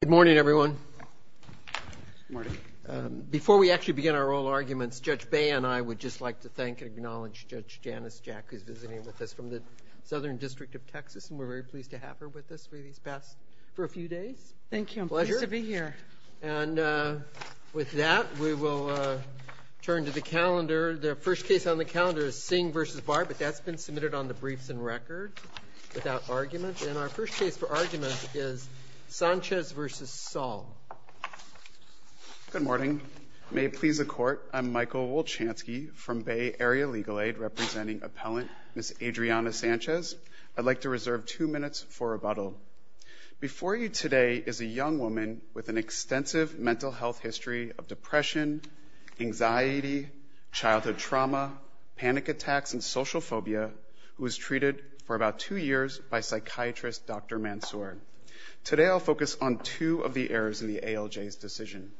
Good morning everyone. Before we actually begin our oral arguments, Judge Bay and I would just like to thank and acknowledge Judge Janice Jack, who's visiting with us from the Southern District of Texas, and we're very pleased to have her with us for these past, for a few days. Thank you. I'm glad to be here. And with that, we will turn to the calendar. The first case on the calendar is Singh v. Barr, but that's been submitted on the briefs and record without argument. And our first case for argument is Sanchez v. Saul. Good morning. May it please the Court, I'm Michael Wolchansky from Bay Area Legal Aid, representing appellant Ms. Adriana Sanchez. I'd like to reserve two minutes for rebuttal. Before you today is a young woman with an extensive mental health history of depression, anxiety, childhood trauma, panic attacks, and social phobia, who was treated for about two years by psychiatrist Dr. Mansour. Today I'll focus on two of the errors in the ALJ's decision.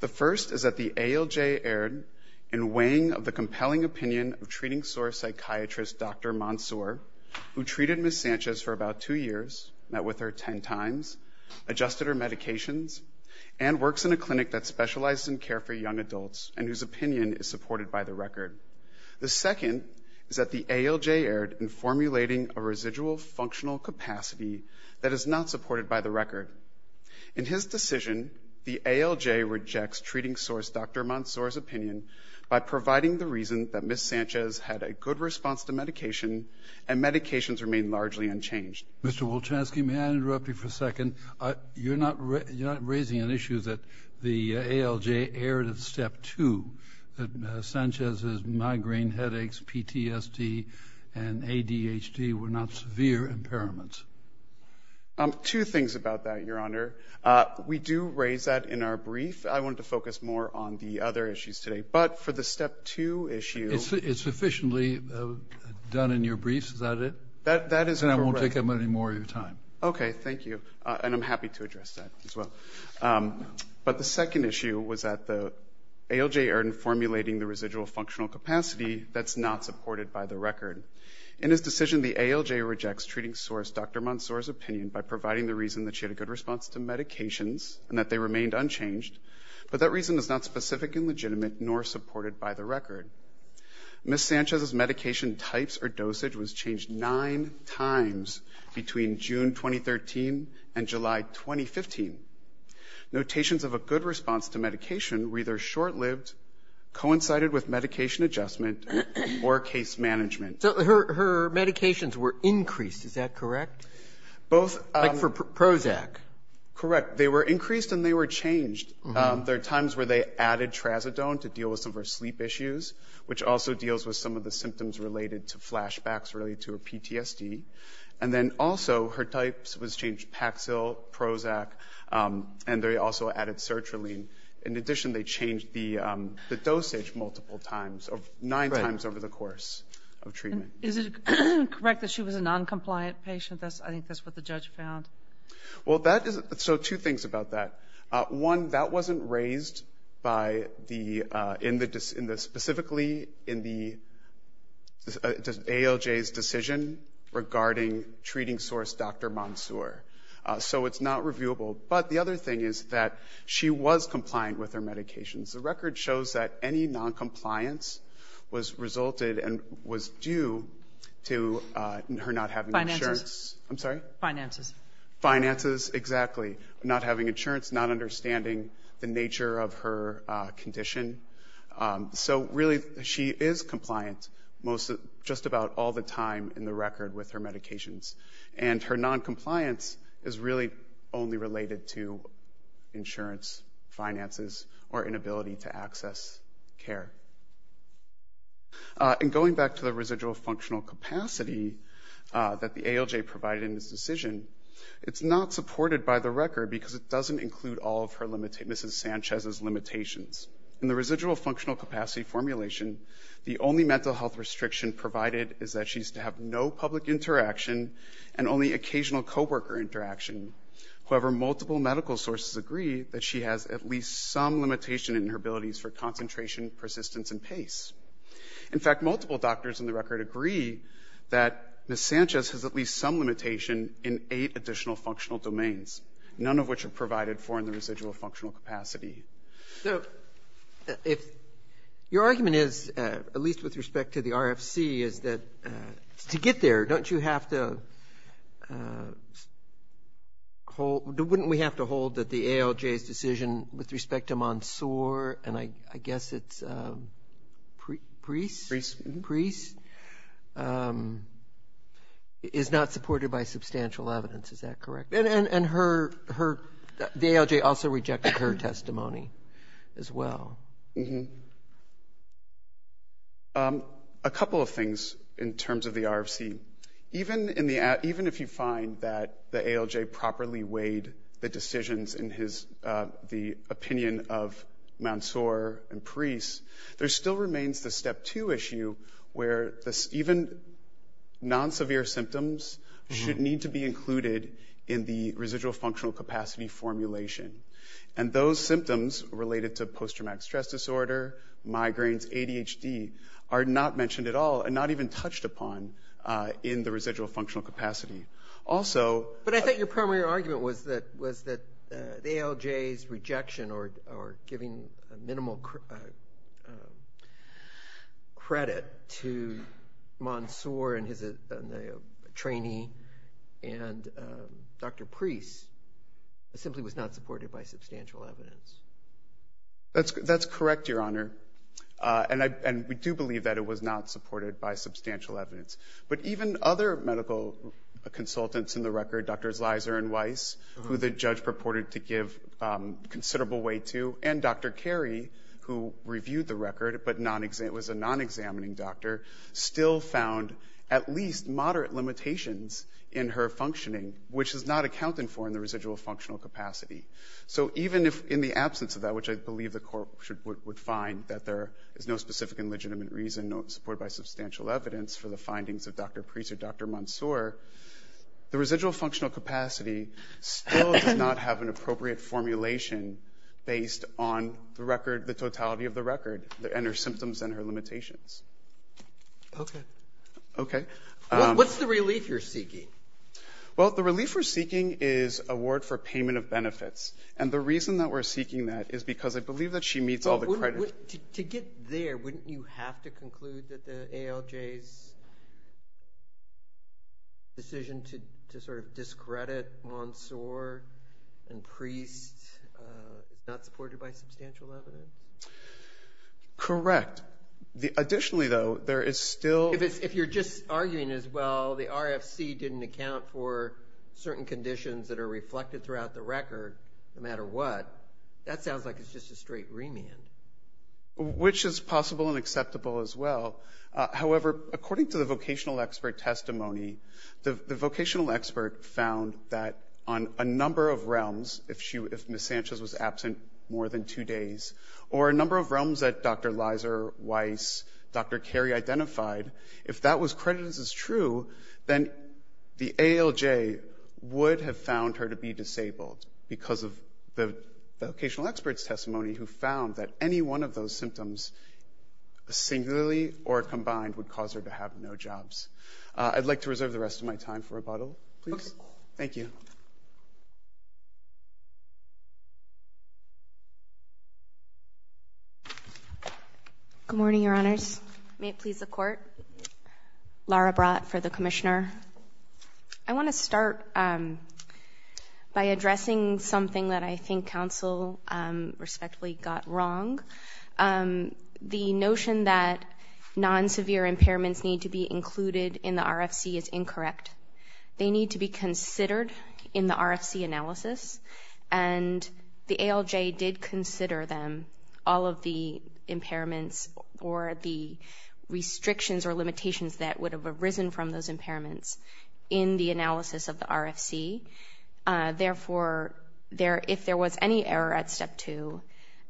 The first is that the ALJ erred in weighing of the compelling opinion of treating SOAR psychiatrist Dr. Mansour, who treated Ms. Sanchez for about two years, met with her ten times, adjusted her medications, and works in a clinic that specializes in care for young adults and whose opinion is supported by the record. The second is that the ALJ erred in formulating a residual functional capacity that is not supported by the record. In his decision, the ALJ rejects treating SOAR's Dr. Mansour's opinion by providing the reason that Ms. Sanchez had a good response to medication and medications remain largely unchanged. Mr. Wolchanski, may I interrupt you for a second? You're not raising an issue that the ALJ erred at step two, that Ms. Sanchez's migraine headaches, PTSD, and ADHD were not severe impairments. Two things about that, Your Honor. We do raise that in our brief. I wanted to focus more on the other issues today. But for the step two issue... It's sufficiently done in your brief. Is that it? That is correct. And I won't take up any more of your time. Okay, thank you. And I'm happy to address that as well. But the second issue was that the ALJ erred in formulating the residual functional capacity that's not supported by the record. In his decision, the ALJ rejects treating SOAR's Dr. Mansour's opinion by providing the reason that she had a good response to medications and that they remained unchanged, but that reason is not specific and legitimate nor supported by the record. Ms. Sanchez's medication types or dosage was changed nine times between June 2013 and July 2015. Notations of a good response to medication were either short-lived, coincided with medication adjustment, or case management. So her medications were increased, is that correct? Both... Like for Prozac. Correct. They were increased and they were changed. There are times where they added Trazodone to deal with some of her sleep issues, which also deals with some of the symptoms related to flashbacks related to her PTSD. And then also her types was changed, Paxil, Prozac, and they also added Sertraline. In addition, they changed the dosage multiple times, nine times over the course of treatment. Is it correct that she was a non-compliant patient? I think that's what the judge found. Well, that is... So two things about that. One, that wasn't raised by the... Specifically in the ALJ's decision regarding treating source Dr. Monsoor. So it's not reviewable. But the other thing is that she was compliant with her medications. The record shows that any non-compliance was resulted and was due to her not having insurance... Finances. I'm sorry? Finances. Finances, exactly. Not having insurance, not understanding the nature of her condition. So really, she is compliant just about all the time in the record with her medications. And her non-compliance is really only related to insurance, finances, or inability to access care. And going back to the residual functional capacity that the ALJ provided in this decision, it's not supported by the record because it doesn't include all of Mrs. Sanchez's limitations. In the residual functional capacity formulation, the only mental health restriction provided is that she's to have no public interaction and only occasional co-worker interaction. However, multiple medical sources agree that she has at least some limitation in her abilities for concentration, persistence, and pace. In fact, multiple doctors in the record agree that Mrs. Sanchez has at least some limitation in eight additional functional domains, none of which are provided for in the residual functional capacity. So if your argument is, at least with respect to the RFC, is that to get there, don't you have to hold... Wouldn't we have to hold that the ALJ's decision with respect to Monsoor, and I guess it's Preece? Preece. Preece is not supported by substantial evidence. Is that correct? And the ALJ also rejected her testimony as well. A couple of things in terms of the RFC. Even if you find that the ALJ properly weighed the decisions in the opinion of Monsoor and Preece, there still remains the step two issue where even non-severe symptoms should need to be included in the residual functional capacity formulation. And those symptoms related to post-traumatic stress disorder, migraines, ADHD, are not mentioned at all and not even touched upon in the residual functional capacity. But I thought your primary argument was that the ALJ's rejection or giving minimal credit to Monsoor and his trainee and Dr. Preece simply was not supported by substantial evidence. That's correct, Your Honor. And we do believe that it was not supported by substantial evidence. But even other medical consultants in the record, Drs. Leiser and Weiss, who the judge purported to give considerable weight to, and Dr. Carey, who reviewed the record but was a non-examining doctor, still found at least moderate limitations in her functioning, which is not accounted for in the residual functional capacity. So even in the absence of that, which I believe the court would find that there is no specific and legitimate reason, not supported by substantial evidence for the findings of Dr. Preece or Dr. Monsoor, the residual functional capacity still does not have an appropriate formulation based on the record, the totality of the record and her symptoms and her limitations. Okay. Okay. What's the relief you're seeking? Well, the relief we're seeking is award for payment of benefits. And the reason that we're seeking that is because I believe that she meets all the credit. To get there, wouldn't you have to conclude that the ALJ's decision to sort of discredit Monsoor and Preece is not supported by substantial evidence? Correct. Additionally, though, there is still – If you're just arguing as, well, the RFC didn't account for certain conditions that are reflected throughout the record, no matter what, that sounds like it's just a straight remand. Which is possible and acceptable as well. However, according to the vocational expert testimony, the vocational expert found that on a number of realms, if Ms. Sanchez was absent more than two days, or a number of realms that Dr. Leiser, Weiss, Dr. Carey identified, if that was credited as true, then the ALJ would have found her to be disabled because of the vocational expert's testimony who found that any one of those symptoms singularly or combined would cause her to have no jobs. I'd like to reserve the rest of my time for rebuttal, please. Thank you. Good morning, Your Honors. May it please the Court. Laura Brott for the Commissioner. I want to start by addressing something that I think counsel respectively got wrong. The notion that non-severe impairments need to be included in the RFC is incorrect. They need to be considered in the RFC analysis, and the ALJ did consider them, all of the impairments or the restrictions or limitations that would have arisen from those impairments, in the analysis of the RFC. Therefore, if there was any error at Step 2,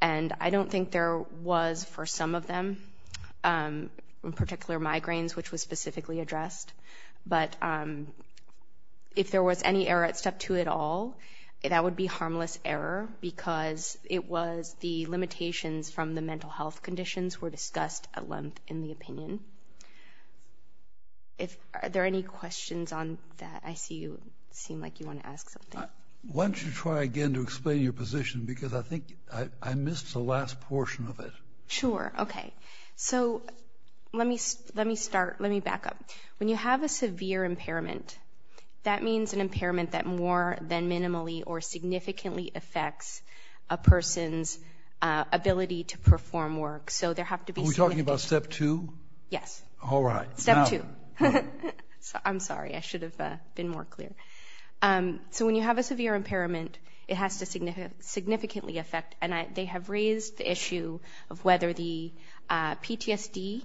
and I don't think there was for some of them, in particular migraines, which was specifically addressed, but if there was any error at Step 2 at all, that would be harmless error because it was the limitations from the mental health conditions were discussed at length in the opinion. Are there any questions on that? I see you seem like you want to ask something. Why don't you try again to explain your position because I think I missed the last portion of it. Sure. Okay. So let me start. Let me back up. When you have a severe impairment, that means an impairment that more than minimally or significantly affects a person's ability to perform work. So there have to be significant. Are we talking about Step 2? Yes. All right. Step 2. I'm sorry. I should have been more clear. So when you have a severe impairment, it has to significantly affect, and they have raised the issue of whether the PTSD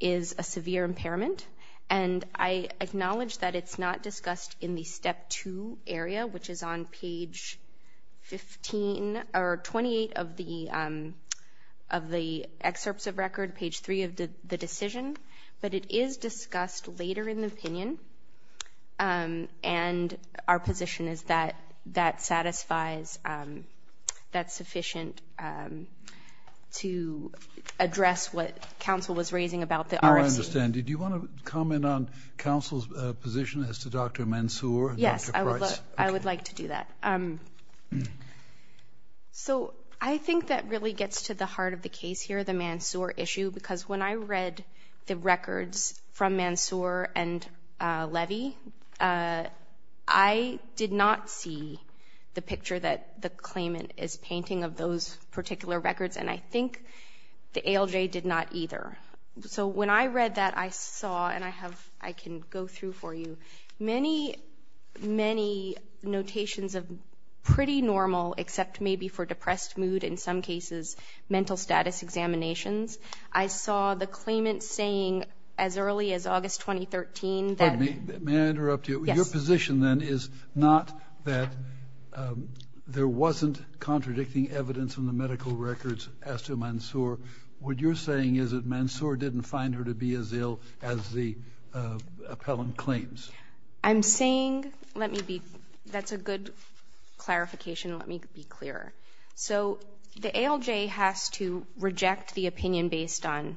is a severe impairment, and I acknowledge that it's not discussed in the Step 2 area, which is on page 15 or 28 of the excerpts of record, page 3 of the decision, but it is discussed later in the opinion, and our position is that that satisfies, that's sufficient to address what counsel was raising about the RFC. I understand. Did you want to comment on counsel's position as to Dr. Mansoor and Dr. Price? Yes, I would like to do that. So I think that really gets to the heart of the case here, the Mansoor issue, because when I read the records from Mansoor and Levy, I did not see the picture that the claimant is painting of those particular records, and I think the ALJ did not either. So when I read that, I saw, and I can go through for you, many, many notations of pretty normal, except maybe for depressed mood, in some cases mental status examinations. I saw the claimant saying as early as August 2013 that ---- Pardon me, may I interrupt you? Yes. Your position then is not that there wasn't contradicting evidence in the medical records as to Mansoor. What you're saying is that Mansoor didn't find her to be as ill as the appellant claims. I'm saying, let me be, that's a good clarification, let me be clearer. So the ALJ has to reject the opinion based on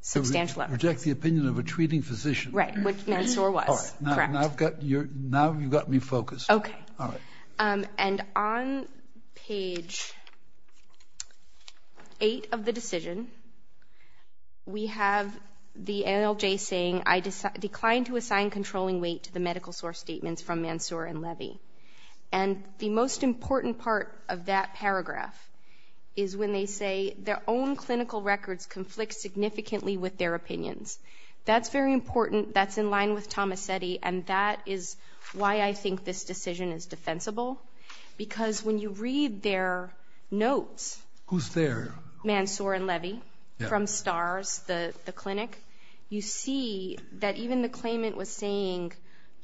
substantial evidence. Reject the opinion of a treating physician. Right, which Mansoor was. Correct. Now you've got me focused. Okay. All right. And on page 8 of the decision, we have the ALJ saying, and the most important part of that paragraph is when they say, their own clinical records conflict significantly with their opinions. That's very important, that's in line with Tomasetti, and that is why I think this decision is defensible, because when you read their notes ---- Who's there? Mansoor and Levy from STARS, the clinic, you see that even the claimant was saying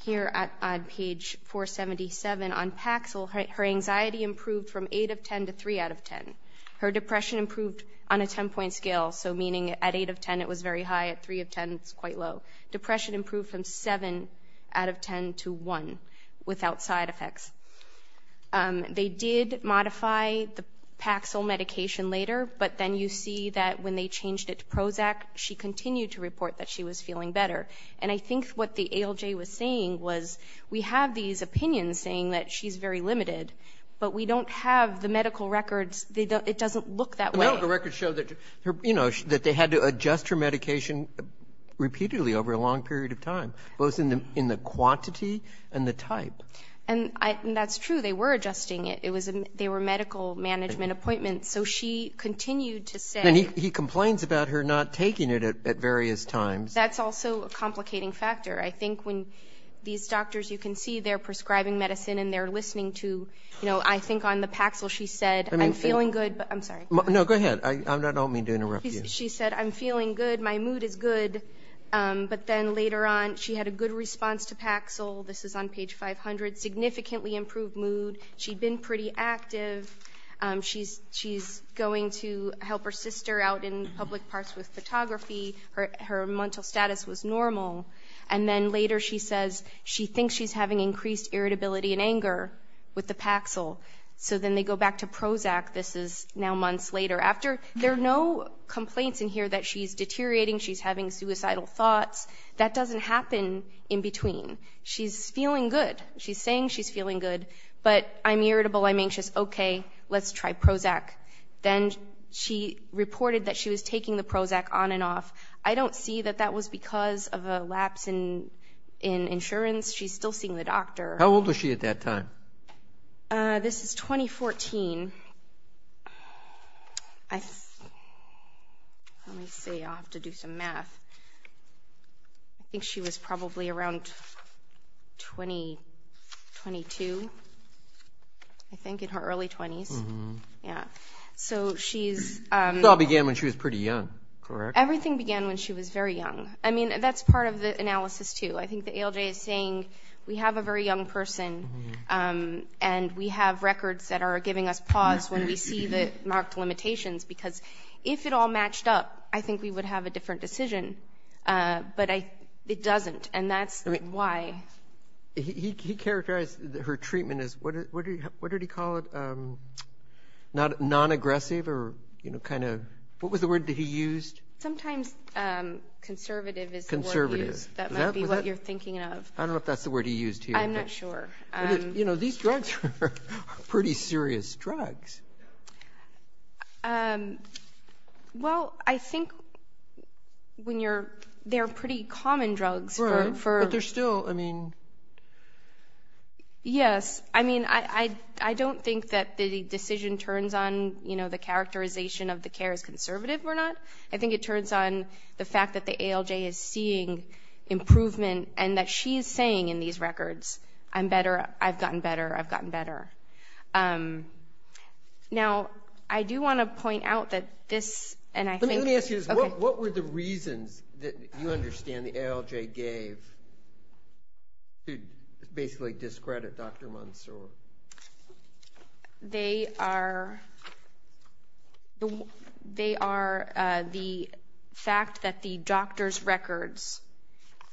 here on page 477 on Paxil, her anxiety improved from 8 of 10 to 3 out of 10. Her depression improved on a 10-point scale, so meaning at 8 of 10 it was very high, at 3 of 10 it's quite low. Depression improved from 7 out of 10 to 1 without side effects. They did modify the Paxil medication later, but then you see that when they changed it to Prozac, she continued to report that she was feeling better. And I think what the ALJ was saying was, we have these opinions saying that she's very limited, but we don't have the medical records, it doesn't look that way. The medical records show that, you know, that they had to adjust her medication repeatedly over a long period of time, both in the quantity and the type. And that's true, they were adjusting it. They were medical management appointments, so she continued to say he complains about her not taking it at various times. That's also a complicating factor. I think when these doctors, you can see they're prescribing medicine and they're listening to, you know, I think on the Paxil she said, I'm feeling good, but I'm sorry. No, go ahead. I don't mean to interrupt you. She said, I'm feeling good, my mood is good, but then later on she had a good response to Paxil. This is on page 500, significantly improved mood. She'd been pretty active. She's going to help her sister out in public parks with photography. Her mental status was normal. And then later she says she thinks she's having increased irritability and anger with the Paxil. So then they go back to Prozac. This is now months later. There are no complaints in here that she's deteriorating, she's having suicidal thoughts. That doesn't happen in between. She's feeling good. She's saying she's feeling good, but I'm irritable, I'm anxious. She says, okay, let's try Prozac. Then she reported that she was taking the Prozac on and off. I don't see that that was because of a lapse in insurance. She's still seeing the doctor. How old was she at that time? This is 2014. Let me see, I'll have to do some math. I think she was probably around 22, I think, in her early 20s. So she's ‑‑ It all began when she was pretty young, correct? Everything began when she was very young. I mean, that's part of the analysis, too. I think the ALJ is saying we have a very young person and we have records that are giving us pause when we see the marked limitations because if it all matched up, I think we would have a different decision. But it doesn't, and that's why. He characterized her treatment as, what did he call it? Nonaggressive or kind of, what was the word that he used? Sometimes conservative is the word used. That might be what you're thinking of. I don't know if that's the word he used here. I'm not sure. These drugs are pretty serious drugs. Well, I think they're pretty common drugs. Right, but they're still, I mean ‑‑ Yes, I mean, I don't think that the decision turns on the characterization of the care is conservative or not. I think it turns on the fact that the ALJ is seeing improvement and that she is saying in these records, I'm better, I've gotten better, I've gotten better. Now, I do want to point out that this, and I think ‑‑ Let me ask you this. What were the reasons that you understand the ALJ gave to basically discredit Dr. Mansour? They are the fact that the doctor's records,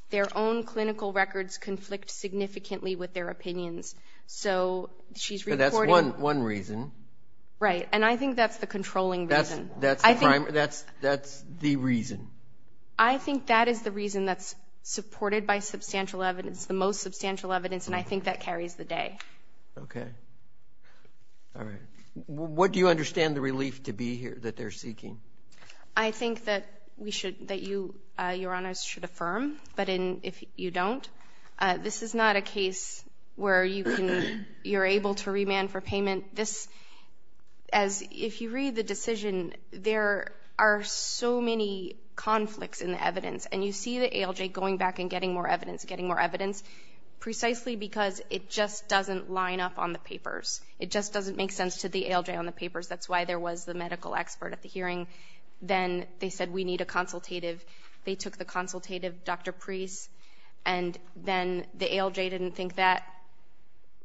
their own clinical records conflict significantly with their opinions. So she's reporting ‑‑ But that's one reason. Right, and I think that's the controlling reason. That's the reason. I think that is the reason that's supported by substantial evidence, the most substantial evidence, and I think that carries the day. Okay. All right. What do you understand the relief to be here that they're seeking? I think that we should, that you, Your Honors, should affirm, but if you don't, this is not a case where you can, you're able to remand for payment. This, as, if you read the decision, there are so many conflicts in the evidence, and you see the ALJ going back and getting more evidence, getting more evidence, precisely because it just doesn't line up on the papers. It just doesn't make sense to the ALJ on the papers. That's why there was the medical expert at the hearing. Then they said we need a consultative. They took the consultative, Dr. Preece, and then the ALJ didn't think that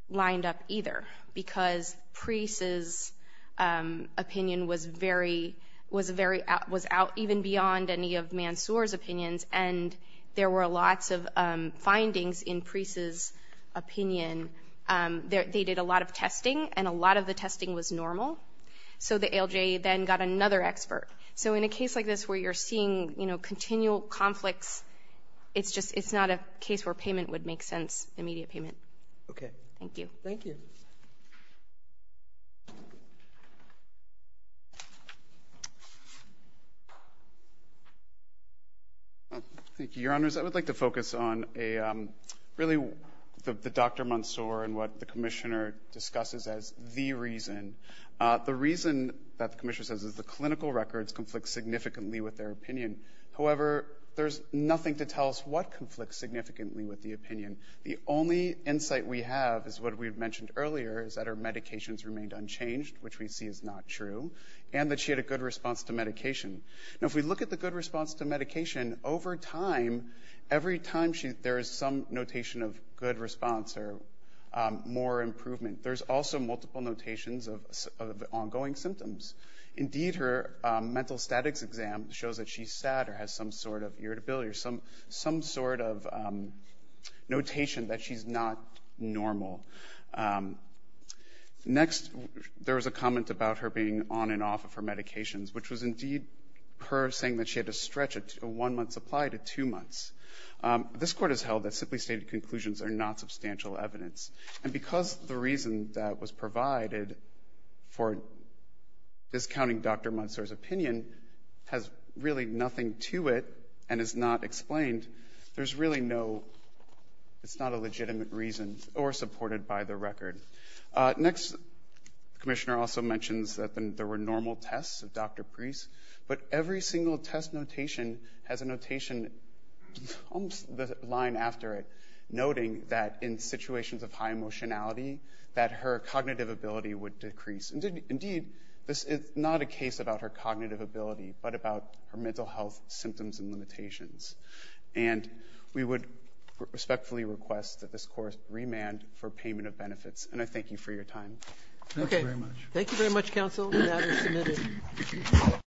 lined up either because Preece's opinion was very, was out even beyond any of Mansour's opinions, they did a lot of testing, and a lot of the testing was normal. So the ALJ then got another expert. So in a case like this where you're seeing, you know, continual conflicts, it's just it's not a case where payment would make sense, immediate payment. Okay. Thank you. Thank you. Thank you, Your Honors. I would like to focus on really the Dr. Mansour and what the commissioner discusses as the reason. The reason that the commissioner says is the clinical records conflict significantly with their opinion. However, there's nothing to tell us what conflicts significantly with the opinion. The only insight we have is what we had mentioned earlier, is that her medications remained unchanged, which we see is not true, and that she had a good response to medication. Now, if we look at the good response to medication, over time, every time there is some notation of good response or more improvement, there's also multiple notations of ongoing symptoms. Indeed, her mental statics exam shows that she's sad or has some sort of irritability or some sort of notation that she's not normal. Next, there was a comment about her being on and off of her medications, which was indeed her saying that she had to stretch a one-month supply to two months. This Court has held that simply stated conclusions are not substantial evidence, and because the reason that was provided for discounting Dr. Mansour's opinion has really nothing to it and is not explained, there's really no legitimate reason or supported by the record. Next, the Commissioner also mentions that there were normal tests of Dr. Preece, but every single test notation has a notation, almost the line after it, noting that in situations of high emotionality, that her cognitive ability would decrease. Indeed, this is not a case about her cognitive ability, but about her mental health symptoms and limitations. And we would respectfully request that this Court remand for payment of benefits, and I thank you for your time. Okay. Thank you very much. Thank you very much, Counsel, and that is submitted.